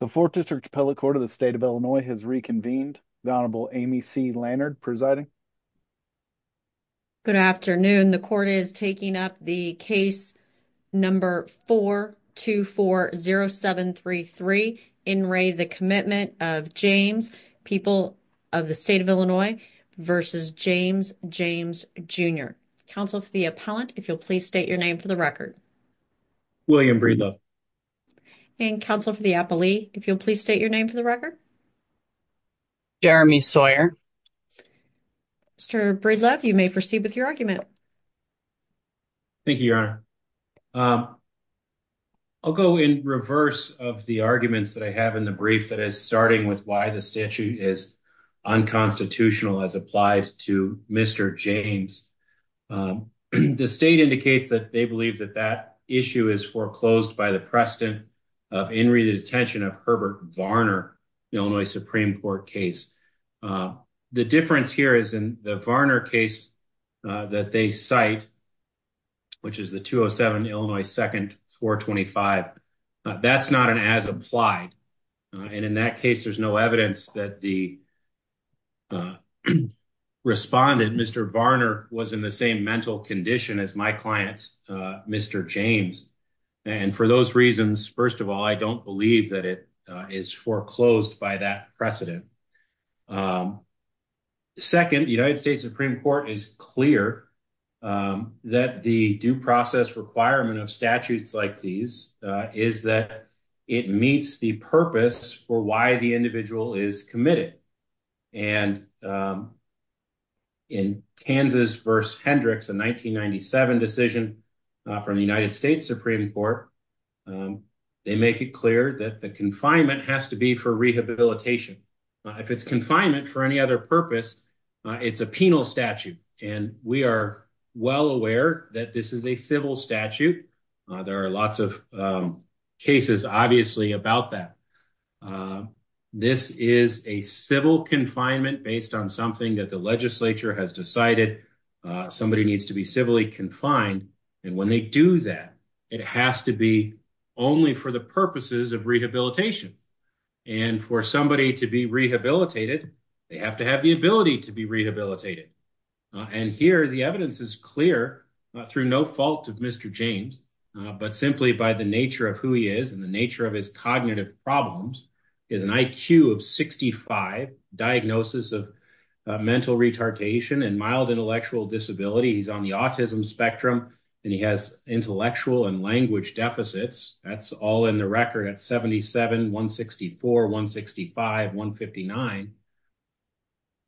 The 4th District Appellate Court of the State of Illinois has reconvened. The Honorable Amy C. Lannard presiding. Good afternoon. The court is taking up the case number 4-240733, in Ray, the Commitment of James, people of the State of Illinois, versus James, James Jr. Counsel for the appellant, if you'll please state your name for the record. William Breedlove. And Counsel for the appellee, if you'll please state your name for the record. Jeremy Sawyer. Mr. Breedlove, you may proceed with your argument. Thank you, Your Honor. I'll go in reverse of the arguments that I have in the brief that is starting with why the statute is unconstitutional as applied to Mr. James. The state indicates that they believe that that issue is foreclosed by the precedent of in re-detention of Herbert Varner, the Illinois Supreme Court case. The difference here is in the Varner case that they cite, which is the 207 Illinois 2nd 425. That's not an as-applied, and in that case, there's no evidence that the respondent, Mr. Varner, was in the same mental condition as my client, Mr. James. And for those reasons, first of all, I don't believe that it is foreclosed by that precedent. Second, the United States Supreme Court is clear that the due process requirement of statutes like these is that it meets the purpose for why the individual is committed. And in Kansas v. Hendricks, a 1997 decision from the United States Supreme Court, they make it clear that the confinement has to be for rehabilitation. If it's confinement for any other purpose, it's a penal statute, and we are well aware that this is a civil statute. There are lots of cases, obviously, about that. This is a civil confinement based on something that the legislature has decided somebody needs to be civilly confined, and when they do that, it has to be only for the purposes of rehabilitation. And for somebody to be rehabilitated, they have to have the ability to be rehabilitated. And here, the evidence is clear, through no fault of Mr. James, but simply by the nature of who he is and the nature of his cognitive problems, he has an IQ of 65, diagnosis of mental retardation and mild intellectual disability, he's on the autism spectrum, and he has intellectual and language deficits. That's all in the record at 77, 164, 165, 159.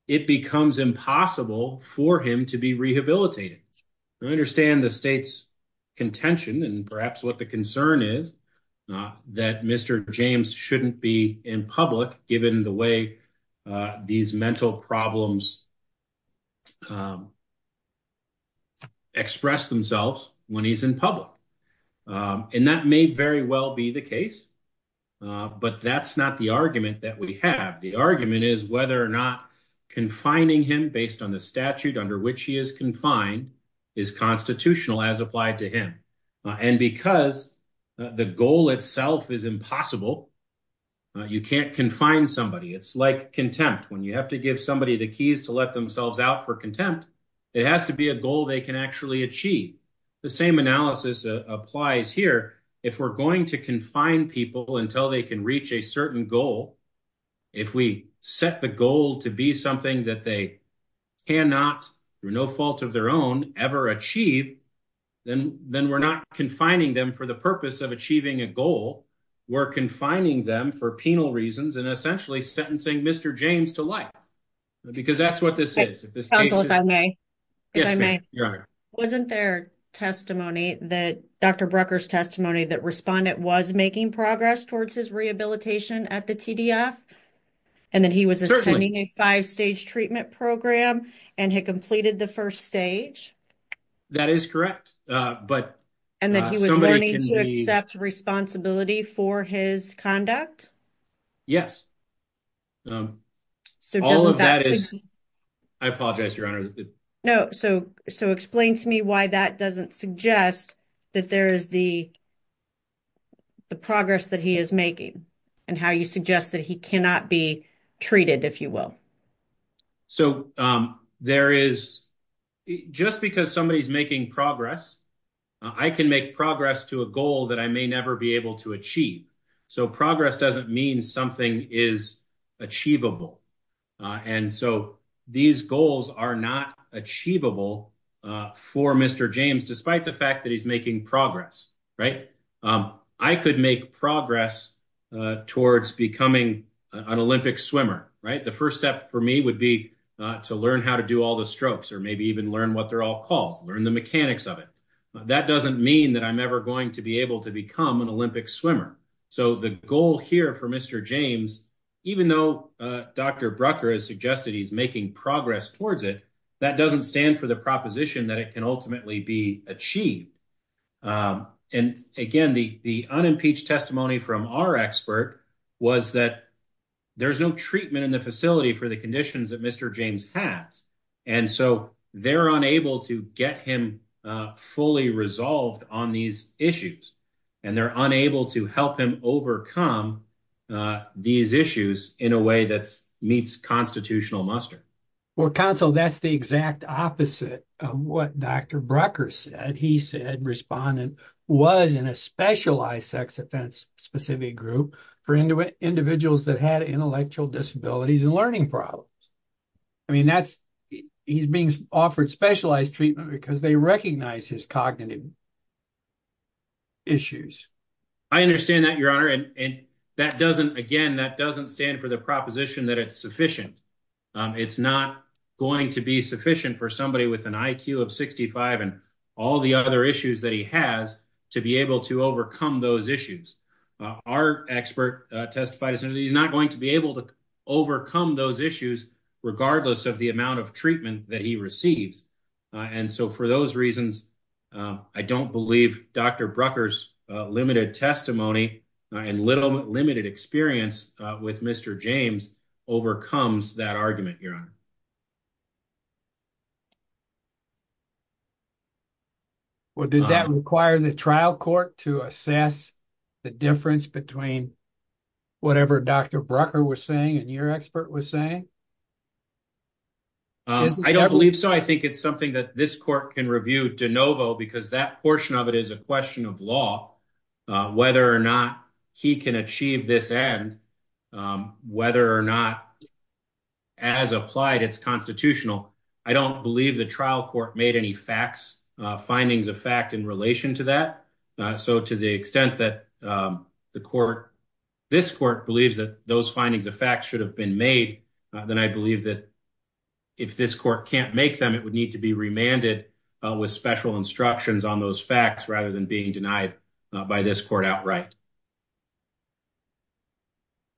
It becomes impossible for him to be rehabilitated. We understand the state's contention and perhaps what the concern is, that Mr. James shouldn't be in public, given the way these mental problems express themselves when he's in public. And that may very well be the case, but that's not the argument that we have. The argument is whether or not confining him based on the statute under which he is confined is constitutional as applied to him. And because the goal itself is impossible, you can't confine somebody. It's like contempt. When you have to give somebody the keys to let themselves out for contempt, it has to be a goal they can actually achieve. The same analysis applies here. If we're going to confine people until they can reach a certain goal, if we set the goal to be something that they cannot, through no fault of their own, ever achieve, then we're not confining them for the purpose of achieving a goal. We're confining them for penal reasons and essentially sentencing Mr. James to life. Because that's what this is. Counsel, if I may? Yes, ma'am. You're on air. Wasn't there testimony, Dr. Brucker's testimony, that Respondent was making progress towards his rehabilitation at the TDF? And that he was attending a five-stage treatment program and had completed the first stage? That is correct. And that he was learning to accept responsibility for his conduct? Yes. So, doesn't that suggest... All of that is... I apologize, Your Honor. No. So, explain to me why that doesn't suggest that there is the progress that he is making and how you suggest that he cannot be treated, if you will. So, there is... Just because somebody's making progress, I can make progress to a goal that I may never be able to achieve. So, progress doesn't mean something is achievable. And so, these goals are not achievable for Mr. James, despite the fact that he's making progress, right? I could make progress towards becoming an Olympic swimmer, right? The first step for me would be to learn how to do all the strokes or maybe even learn what they're all called, learn the mechanics of it. That doesn't mean that I'm ever going to be able to become an Olympic swimmer. So, the goal here for Mr. James, even though Dr. Brucker has suggested he's making progress towards it, that doesn't stand for the proposition that it can ultimately be achieved. And again, the unimpeached testimony from our expert was that there's no treatment in the facility for the conditions that Mr. James has. And so, they're unable to get him fully resolved on these issues. And they're unable to help him overcome these issues in a way that meets constitutional muster. Well, counsel, that's the exact opposite of what Dr. Brucker said. He said respondent was in a specialized sex offense specific group for individuals that had intellectual disabilities and learning problems. I mean, he's being offered specialized treatment because they recognize his cognitive issues. I understand that, Your Honor. That doesn't, again, that doesn't stand for the proposition that it's sufficient. It's not going to be sufficient for somebody with an IQ of 65 and all the other issues that he has to be able to overcome those issues. Our expert testified as soon as he's not going to be able to overcome those issues, regardless of the amount of treatment that he receives. And so, for those reasons, I don't believe Dr. Brucker's limited testimony and little limited experience with Mr. James overcomes that argument, Your Honor. Well, did that require the trial court to assess the difference between whatever Dr. Brucker was saying and your expert was saying? I don't believe so. I think it's something that this court can review de novo because that portion of it is a question of law, whether or not he can achieve this end, whether or not, as applied, it's constitutional. I don't believe the trial court made any facts, findings of fact in relation to that. So to the extent that the court, this court believes that those findings of fact should have been made, then I believe that if this court can't make them, it would need to be been denied by this court outright.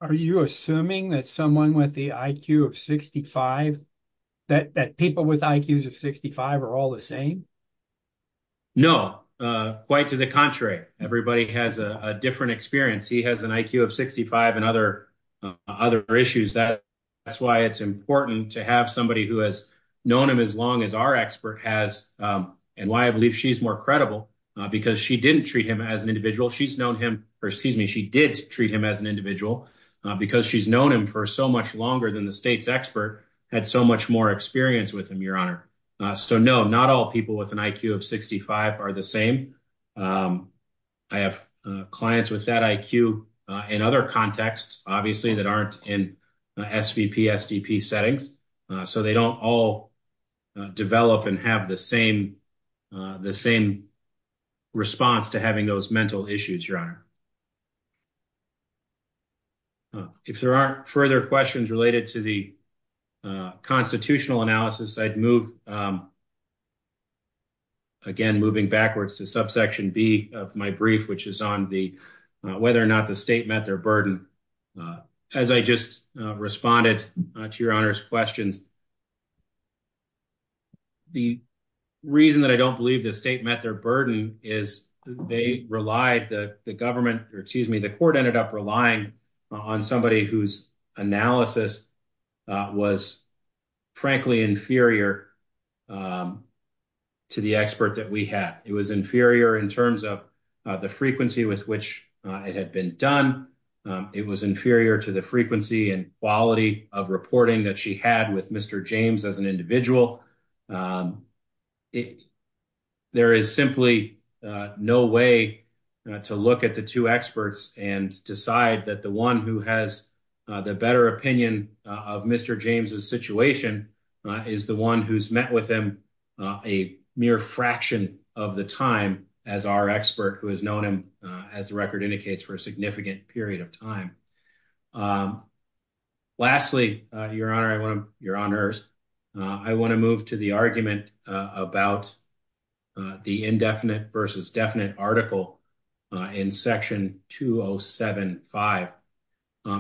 Are you assuming that someone with the IQ of 65, that people with IQs of 65 are all the same? No, quite to the contrary. Everybody has a different experience. He has an IQ of 65 and other issues. That's why it's important to have somebody who has known him as long as our expert has and why I believe she's more credible because she didn't treat him as an individual. She's known him, or excuse me, she did treat him as an individual because she's known him for so much longer than the state's expert had so much more experience with him, your honor. So no, not all people with an IQ of 65 are the same. I have clients with that IQ in other contexts, obviously, that aren't in SVP, SDP settings. So they don't all develop and have the same response to having those mental issues, your If there aren't further questions related to the constitutional analysis, I'd move again, moving backwards to subsection B of my brief, which is on the whether or not the state met their burden. As I just responded to your honor's questions, the reason that I don't believe the state met their burden is they relied the government or excuse me, the court ended up relying on somebody whose analysis was frankly inferior to the expert that we had. It was inferior in terms of the frequency with which it had been done. It was inferior to the frequency and quality of reporting that she had with Mr. James as an individual. There is simply no way to look at the two experts and decide that the one who has the better opinion of Mr. James's situation is the one who's met with them a mere fraction of the time as our expert who has known him, as the record indicates, for a significant period of time. Lastly, your honor, your honors, I want to move to the argument about the indefinite versus definite article in section 2075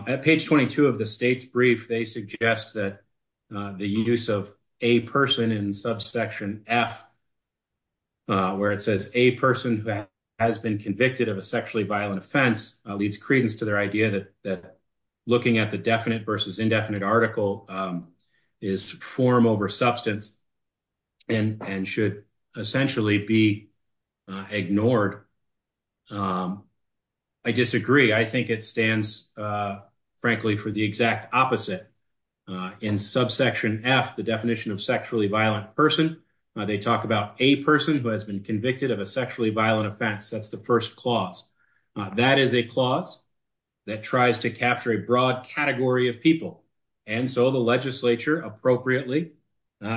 at page 22 of the state's brief. They suggest that the use of a person in subsection F where it says a person who has been convicted of a sexually violent offense leads credence to their idea that looking at the definite versus indefinite article is form over substance and should essentially be ignored. I disagree. I think it stands, frankly, for the exact opposite. In subsection F, the definition of sexually violent person, they talk about a person who has been convicted of a sexually violent offense. That's the first clause. That is a clause that tries to capture a broad category of people. And so the legislature appropriately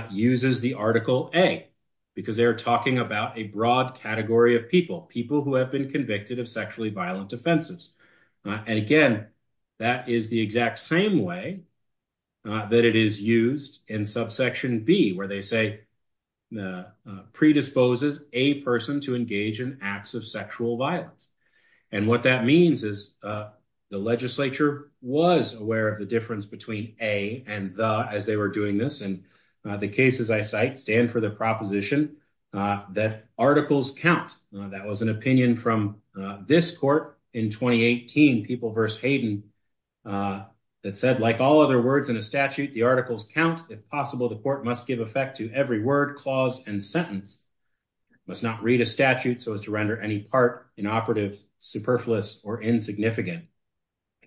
uses the article A because they're talking about a broad category of people, people who have been convicted of sexually violent offenses. And again, that is the exact same way that it is used in subsection B, where they say predisposes a person to engage in acts of sexual violence. And what that means is the legislature was aware of the difference between A and the, as they were doing this and the cases I cite stand for the proposition that articles count. That was an opinion from this court in 2018, People v. Hayden, that said, like all other words in a statute, the articles count. If possible, the court must give effect to every word, clause, and sentence, must not read a statute so as to render any part inoperative, superfluous, or insignificant.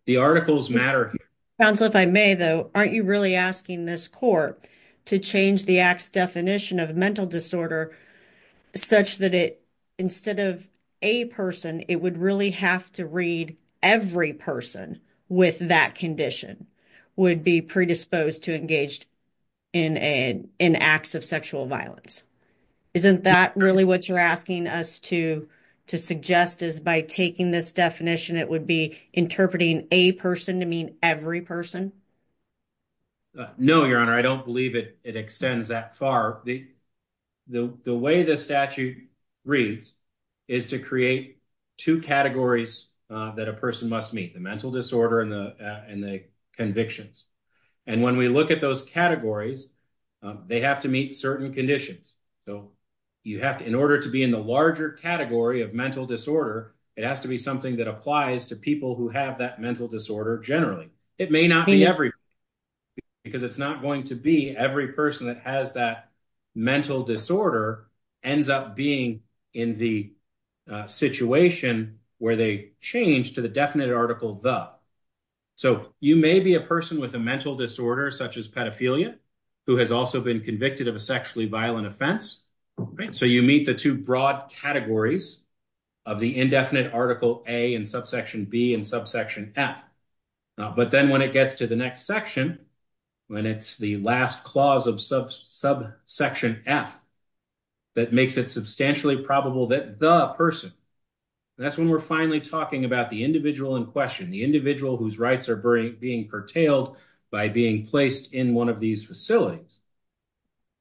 The articles matter. Counsel, if I may, though, aren't you really asking this court to change the act's definition of mental disorder such that it, instead of a person, it would really have to read every person with that condition would be predisposed to engage in acts of sexual violence? Isn't that really what you're asking us to suggest is by taking this definition, it would be interpreting a person to mean every person? No, Your Honor, I don't believe it extends that far. The way the statute reads is to create two categories that a person must meet, the mental disorder and the convictions. And when we look at those categories, they have to meet certain conditions. You have to, in order to be in the larger category of mental disorder, it has to be something that applies to people who have that mental disorder generally. It may not be every person because it's not going to be every person that has that mental disorder ends up being in the situation where they change to the definite article, the. So you may be a person with a mental disorder such as pedophilia who has also been convicted of a sexually violent offense. So you meet the two broad categories of the indefinite article A and subsection B and subsection F. But then when it gets to the next section, when it's the last clause of subsection F that makes it substantially probable that the person that's when we're finally talking about the individual in question, the individual whose rights are being curtailed by being placed in one of these facilities.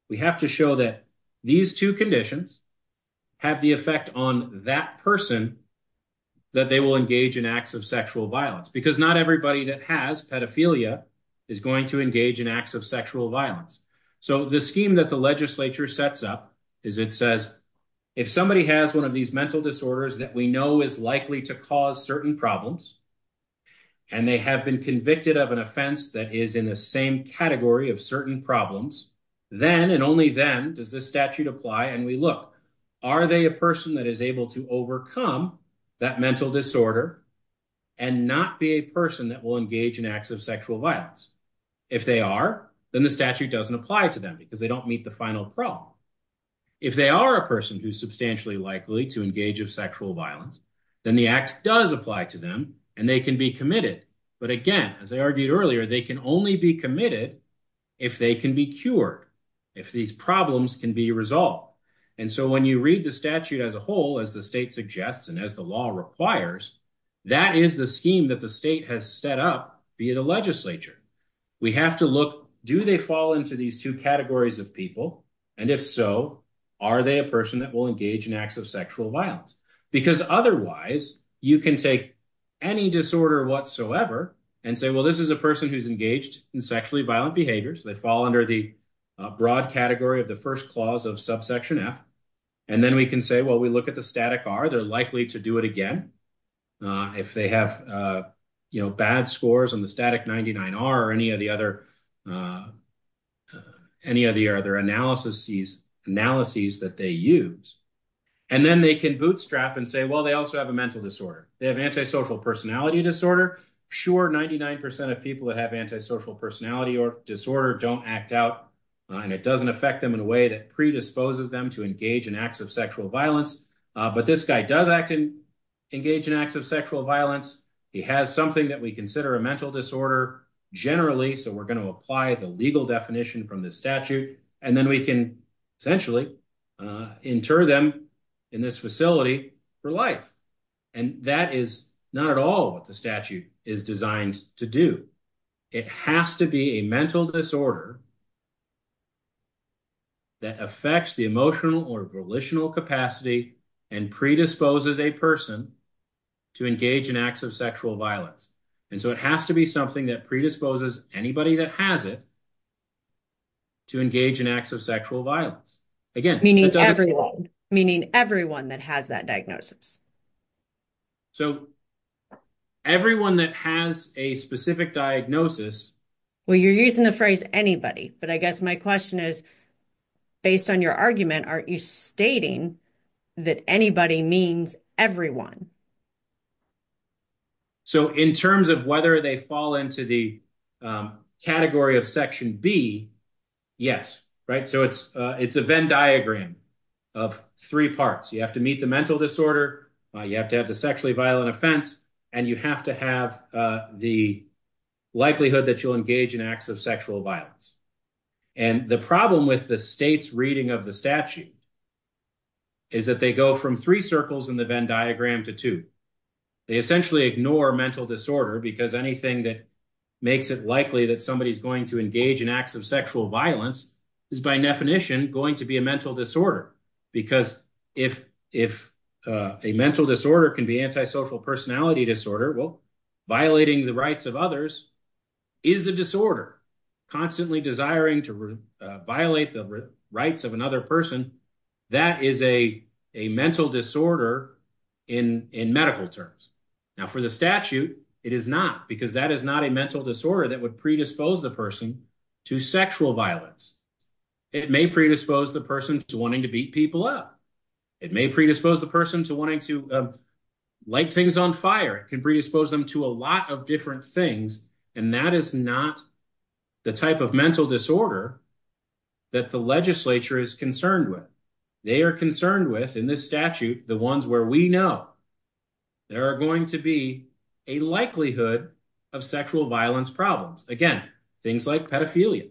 We have to show that these two conditions have the effect on that person that they will engage in acts of sexual violence because not everybody that has pedophilia is going to engage in acts of sexual violence. So the scheme that the legislature sets up is it says if somebody has one of these mental disorders that we know is likely to cause certain problems and they have been convicted of an offense that is in the same category of certain problems, then and only then does the statute apply and we look, are they a person that is able to overcome that mental disorder and not be a person that will engage in acts of sexual violence? If they are, then the statute doesn't apply to them because they don't meet the final problem. If they are a person who's substantially likely to engage in sexual violence, then the act does apply to them and they can be committed. But again, as I argued earlier, they can only be committed if they can be cured, if these problems can be resolved. And so when you read the statute as a whole, as the state suggests, and as the law requires, that is the scheme that the state has set up via the legislature. We have to look, do they fall into these two categories of people? And if so, are they a person that will engage in acts of sexual violence? Because otherwise, you can take any disorder whatsoever and say, well, this is a person who's engaged in sexually violent behaviors. They fall under the broad category of the first clause of subsection F. And then we can say, well, we look at the static R, they're likely to do it again. If they have bad scores on the static 99R or any of the other analyses that they use. And then they can bootstrap and say, well, they also have a mental disorder. They have antisocial personality disorder. Sure, 99% of people that have antisocial personality or disorder don't act out and it doesn't affect them in a way that predisposes them to engage in acts of sexual violence. But this guy does act and engage in acts of sexual violence. He has something that we consider a mental disorder generally. So we're going to apply the legal definition from the statute. And then we can essentially inter them in this facility for life. And that is not at all what the statute is designed to do. It has to be a mental disorder that affects the emotional or volitional capacity and predisposes a person to engage in acts of sexual violence. And so it has to be something that predisposes anybody that has it to engage in acts of sexual violence. Again, meaning everyone that has that diagnosis. So everyone that has a specific diagnosis. Well, you're using the phrase anybody, but I guess my question is, based on your argument, aren't you stating that anybody means everyone? So in terms of whether they fall into the category of Section B, yes. Right. So it's a Venn diagram of three parts. You have to meet the mental disorder. You have to have the sexually violent offense. And you have to have the likelihood that you'll engage in acts of sexual violence. And the problem with the state's reading of the statute is that they go from three circles in the Venn diagram to two circles in the statute. They essentially ignore mental disorder because anything that makes it likely that somebody's going to engage in acts of sexual violence is by definition going to be a mental disorder. Because if a mental disorder can be antisocial personality disorder, well, violating the rights of others is a disorder. Constantly desiring to violate the rights of another person, that is a mental disorder in medical terms. Now, for the statute, it is not because that is not a mental disorder that would predispose the person to sexual violence. It may predispose the person to wanting to beat people up. It may predispose the person to wanting to light things on fire. It can predispose them to a lot of different things. And that is not the type of mental disorder that the legislature is concerned with. They are concerned with in this statute, the ones where we know there are going to be a likelihood of sexual violence problems. Again, things like pedophilia.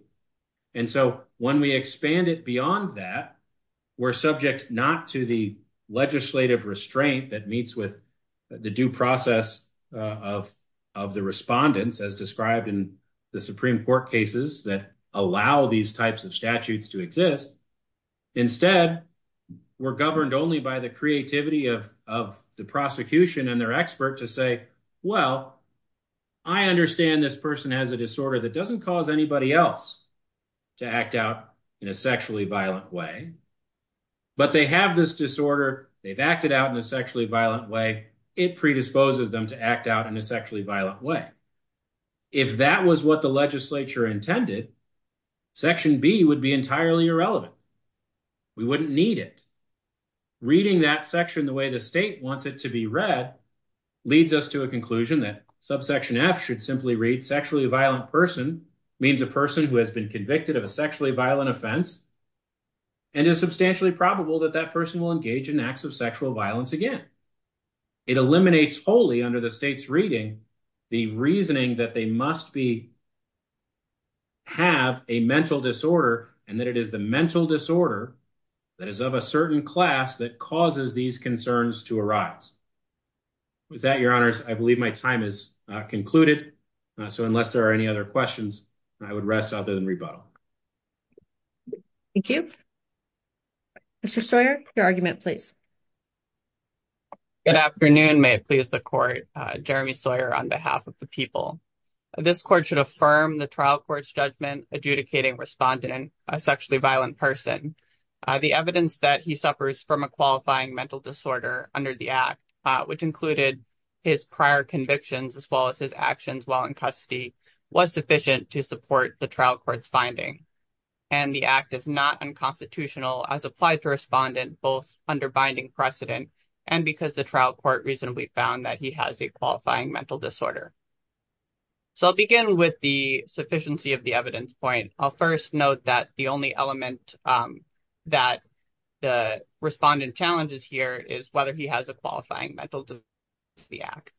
And so when we expand it beyond that, we're subject not to the legislative restraint that meets with the due process of the respondents as described in the Supreme Court cases that allow these types of statutes to exist. Instead, we're governed only by the creativity of the prosecution and their expert to say, well, I understand this person has a disorder that doesn't cause anybody else to act out in a sexually violent way. But they have this disorder. They've acted out in a sexually violent way. It predisposes them to act out in a sexually violent way. If that was what the legislature intended, Section B would be entirely irrelevant. We wouldn't need it. Reading that section the way the state wants it to be read leads us to a conclusion that subsection F should simply read sexually violent person means a person who has been convicted of a sexually violent offense and is substantially probable that that person will engage in acts of sexual violence again. It eliminates wholly under the state's reading the reasoning that they must be have a mental disorder and that it is the mental disorder that is of a certain class that causes these concerns to arise. With that, Your Honors, I believe my time is concluded. So unless there are any other questions, I would rest other than rebuttal. Thank you. Mr. Sawyer, your argument, please. Good afternoon. May it please the court. Jeremy Sawyer on behalf of the people. This court should affirm the trial court's judgment adjudicating respondent a sexually violent person. The evidence that he suffers from a qualifying mental disorder under the act, which included his prior convictions as well as his actions while in custody, was sufficient to support the trial court's finding. And the act is not unconstitutional as applied to respondent, both under binding precedent and because the trial court reasonably found that he has a qualifying mental disorder. So I'll begin with the sufficiency of the evidence point. I'll first note that the only element that the respondent challenges here is whether he has a qualifying mental disorder under the act.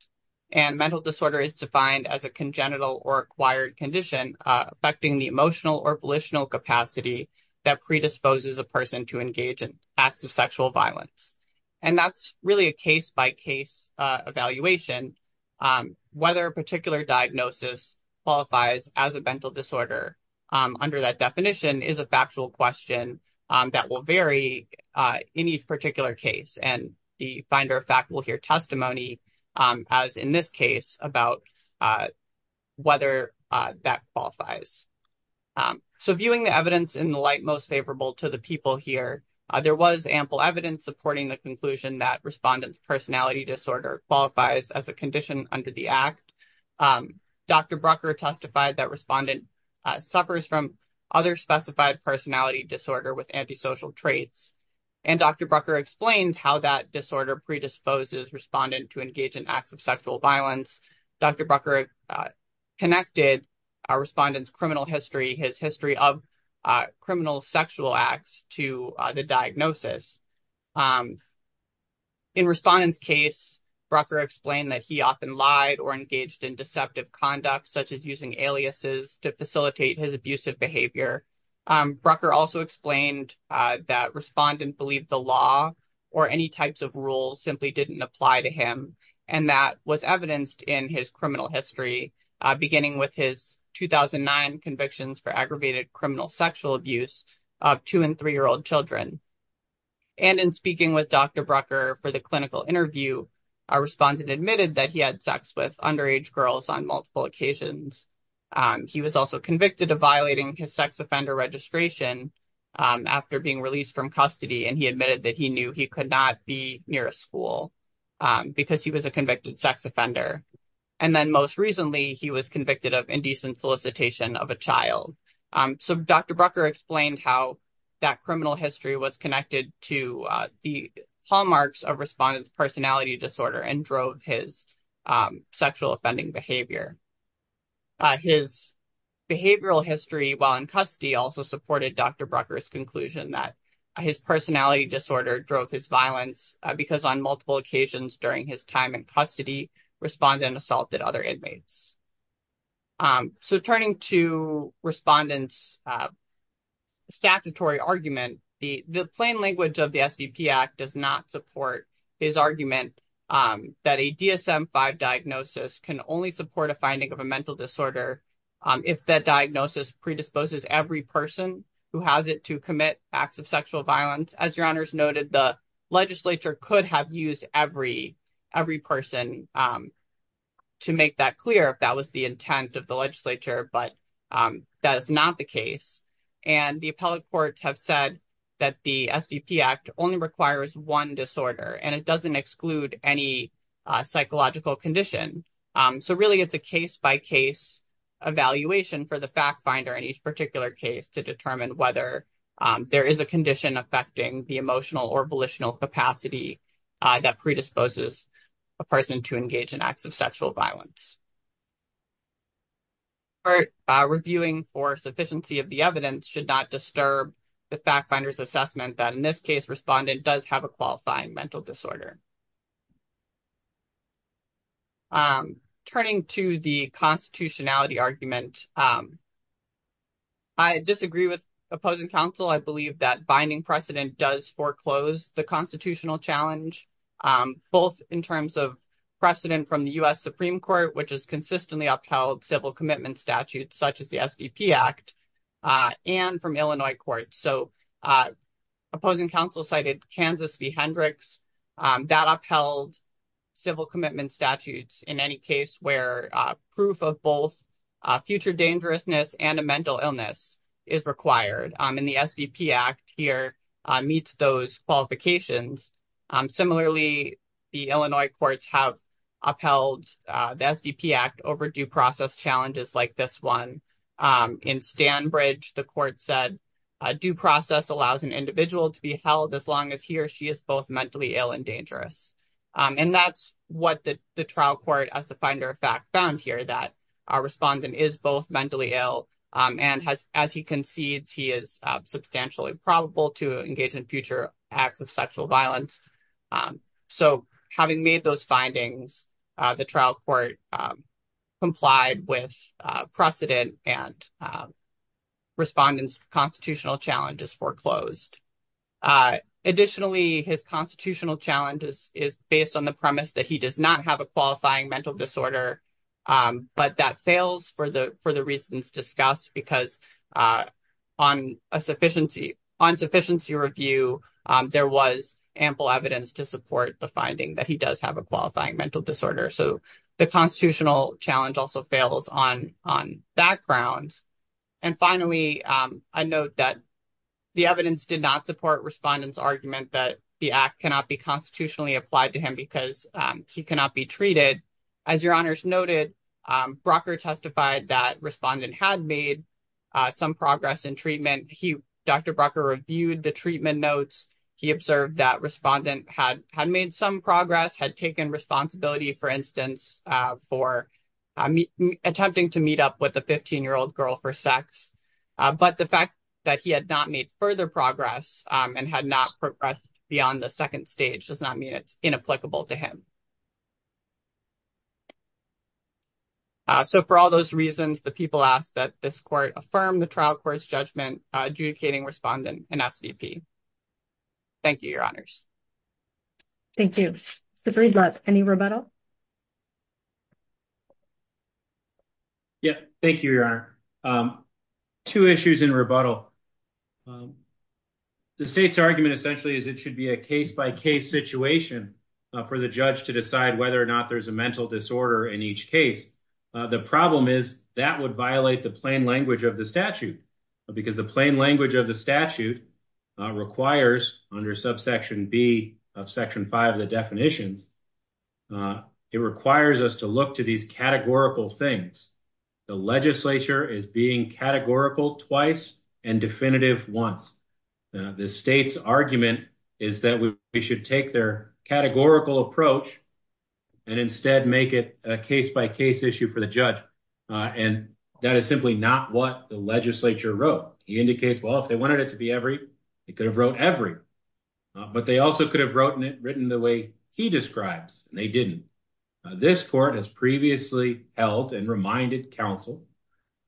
And mental disorder is defined as a congenital or acquired condition affecting the emotional or volitional capacity that predisposes a person to engage in acts of sexual violence. And that's really a case-by-case evaluation. Whether a particular diagnosis qualifies as a mental disorder under that definition is a factual question that will vary in each particular case. And the finder of fact will hear testimony, as in this case, about whether that qualifies. So viewing the evidence in the light most favorable to the people here, there was ample evidence supporting the conclusion that respondent's personality disorder qualifies as a condition under the act. Dr. Brucker testified that respondent suffers from other specified personality disorder with antisocial traits. And Dr. Brucker explained how that disorder predisposes respondent to engage in acts of sexual violence. Dr. Brucker connected our respondent's criminal history, his history of criminal sexual acts to the diagnosis. In respondent's case, Brucker explained that he often lied or engaged in deceptive conduct, such as using aliases to facilitate his abusive behavior. Brucker also explained that respondent believed the law or any types of rules simply didn't apply to him. And that was evidenced in his criminal history, beginning with his 2009 convictions for aggravated criminal sexual abuse of two- and three-year-old children. And in speaking with Dr. Brucker for the clinical interview, our respondent admitted that he had sex with underage girls on multiple occasions. He was also convicted of violating his sex offender registration after being released from custody, and he admitted that he knew he could not be near a school because he was a convicted sex offender. And then most recently, he was convicted of indecent solicitation of a child. So Dr. Brucker explained how that criminal history was connected to the hallmarks of respondent's personality disorder and drove his sexual offending behavior. His behavioral history while in custody also supported Dr. Brucker's conclusion that his personality disorder drove his violence because on multiple occasions during his time in custody, respondent assaulted other inmates. So turning to respondent's statutory argument, the plain language of the SVP Act does not support his argument that a DSM-5 diagnosis can only support a finding of a mental disorder if that diagnosis predisposes every person who has it to commit acts of sexual violence. As your honors noted, the legislature could have used every person to make that clear, that was the intent of the legislature, but that is not the case. And the appellate courts have said that the SVP Act only requires one disorder, and it doesn't exclude any psychological condition. So really, it's a case-by-case evaluation for the fact finder in each particular case to determine whether there is a condition affecting the emotional or volitional capacity that predisposes a person to engage in acts of sexual violence. However, reviewing for sufficiency of the evidence should not disturb the fact finder's assessment that in this case, respondent does have a qualifying mental disorder. Turning to the constitutionality argument, I disagree with opposing counsel. I believe that binding precedent does foreclose the constitutional challenge, both in terms of precedent from the U.S. Supreme Court, which has consistently upheld civil commitment statutes such as the SVP Act, and from Illinois courts. So opposing counsel cited Kansas v. Hendricks, that upheld civil commitment statutes in any case where proof of both future dangerousness and a mental illness is required, and the SVP Act here meets those qualifications. Similarly, the Illinois courts have upheld the SVP Act over due process challenges like this one. In Stanbridge, the court said, due process allows an individual to be held as long as he or she is both mentally ill and dangerous. And that's what the trial court as the finder of fact found here, that our respondent is both mentally ill, and as he concedes, he is substantially probable to engage in future acts of sexual violence. So having made those findings, the trial court complied with precedent, and respondent's constitutional challenge is foreclosed. Additionally, his constitutional challenge is based on the premise that he does not have a qualifying mental disorder, but that fails for the reasons discussed, because on sufficiency review, there was ample evidence to support the finding that he does have a qualifying mental disorder. So the constitutional challenge also fails on background. And finally, I note that the evidence did not support respondent's argument that the act cannot be constitutionally applied to him because he cannot be treated. As your honors noted, Brucker testified that respondent had made some progress in treatment. Dr. Brucker reviewed the treatment notes. He observed that respondent had made some progress, had taken responsibility, for instance, for attempting to meet up with a 15-year-old girl for sex. But the fact that he had not made further progress and had not progressed beyond the second stage does not mean it's inapplicable to him. So for all those reasons, the people asked that this court affirm the trial court's judgment adjudicating respondent, an SVP. Thank you, your honors. Thank you. Mr. Friedlotz, any rebuttal? Yeah, thank you, your honor. Two issues in rebuttal. The state's argument essentially is it should be a case-by-case situation for the judge to decide whether or not there's a mental disorder in each case. The problem is that would violate the plain language of the statute, because the plain language of the statute requires, under subsection B of section 5 of the definitions, it requires us to look to these categorical things. The legislature is being categorical twice and definitive once. The state's argument is that we should take their categorical approach and instead make it a case-by-case issue for the judge. And that is simply not what the legislature wrote. He indicates, well, if they wanted it to be every, they could have wrote every. But they also could have written it the way he describes, and they didn't. This court has previously held and reminded counsel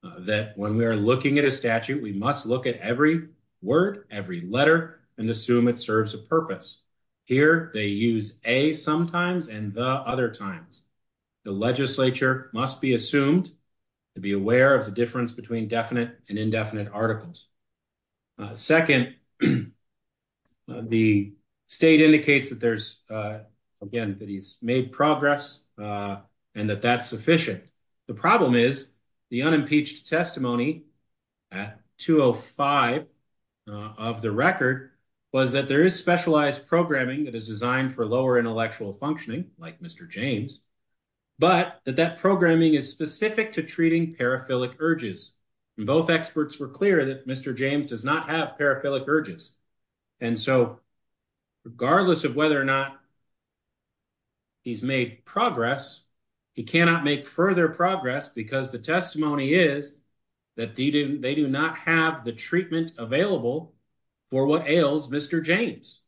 that when we are looking at a statute, we must look at every word, every letter, and assume it serves a purpose. Here, they use a sometimes and the other times. The legislature must be assumed to be aware of the difference between definite and indefinite articles. Second, the state indicates that there's, again, that he's made progress and that that's sufficient. The problem is the unimpeached testimony at 205 of the record was that there is specialized programming that is designed for lower intellectual functioning, like Mr. James, but that that programming is specific to treating paraphilic urges. And both experts were clear that Mr. James does not have paraphilic urges. And so, regardless of whether or not he's made progress, he cannot make further progress because the testimony is that they do not have the treatment available for what ails Mr. James.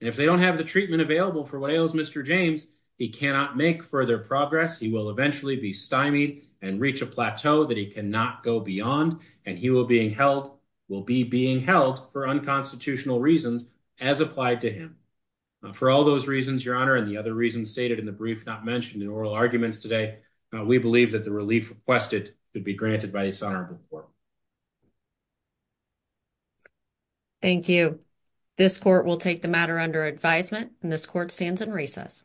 And if they don't have the treatment available for what ails Mr. James, he cannot make further progress. He will eventually be stymied and reach a plateau that he cannot go beyond, and he will be being held for unconstitutional reasons as applied to him. For all those reasons, Your Honor, and the other reasons stated in the brief not mentioned in oral arguments today, we believe that the relief requested would be granted by this honorable court. Thank you. This court will take the matter under advisement, and this court stands in recess.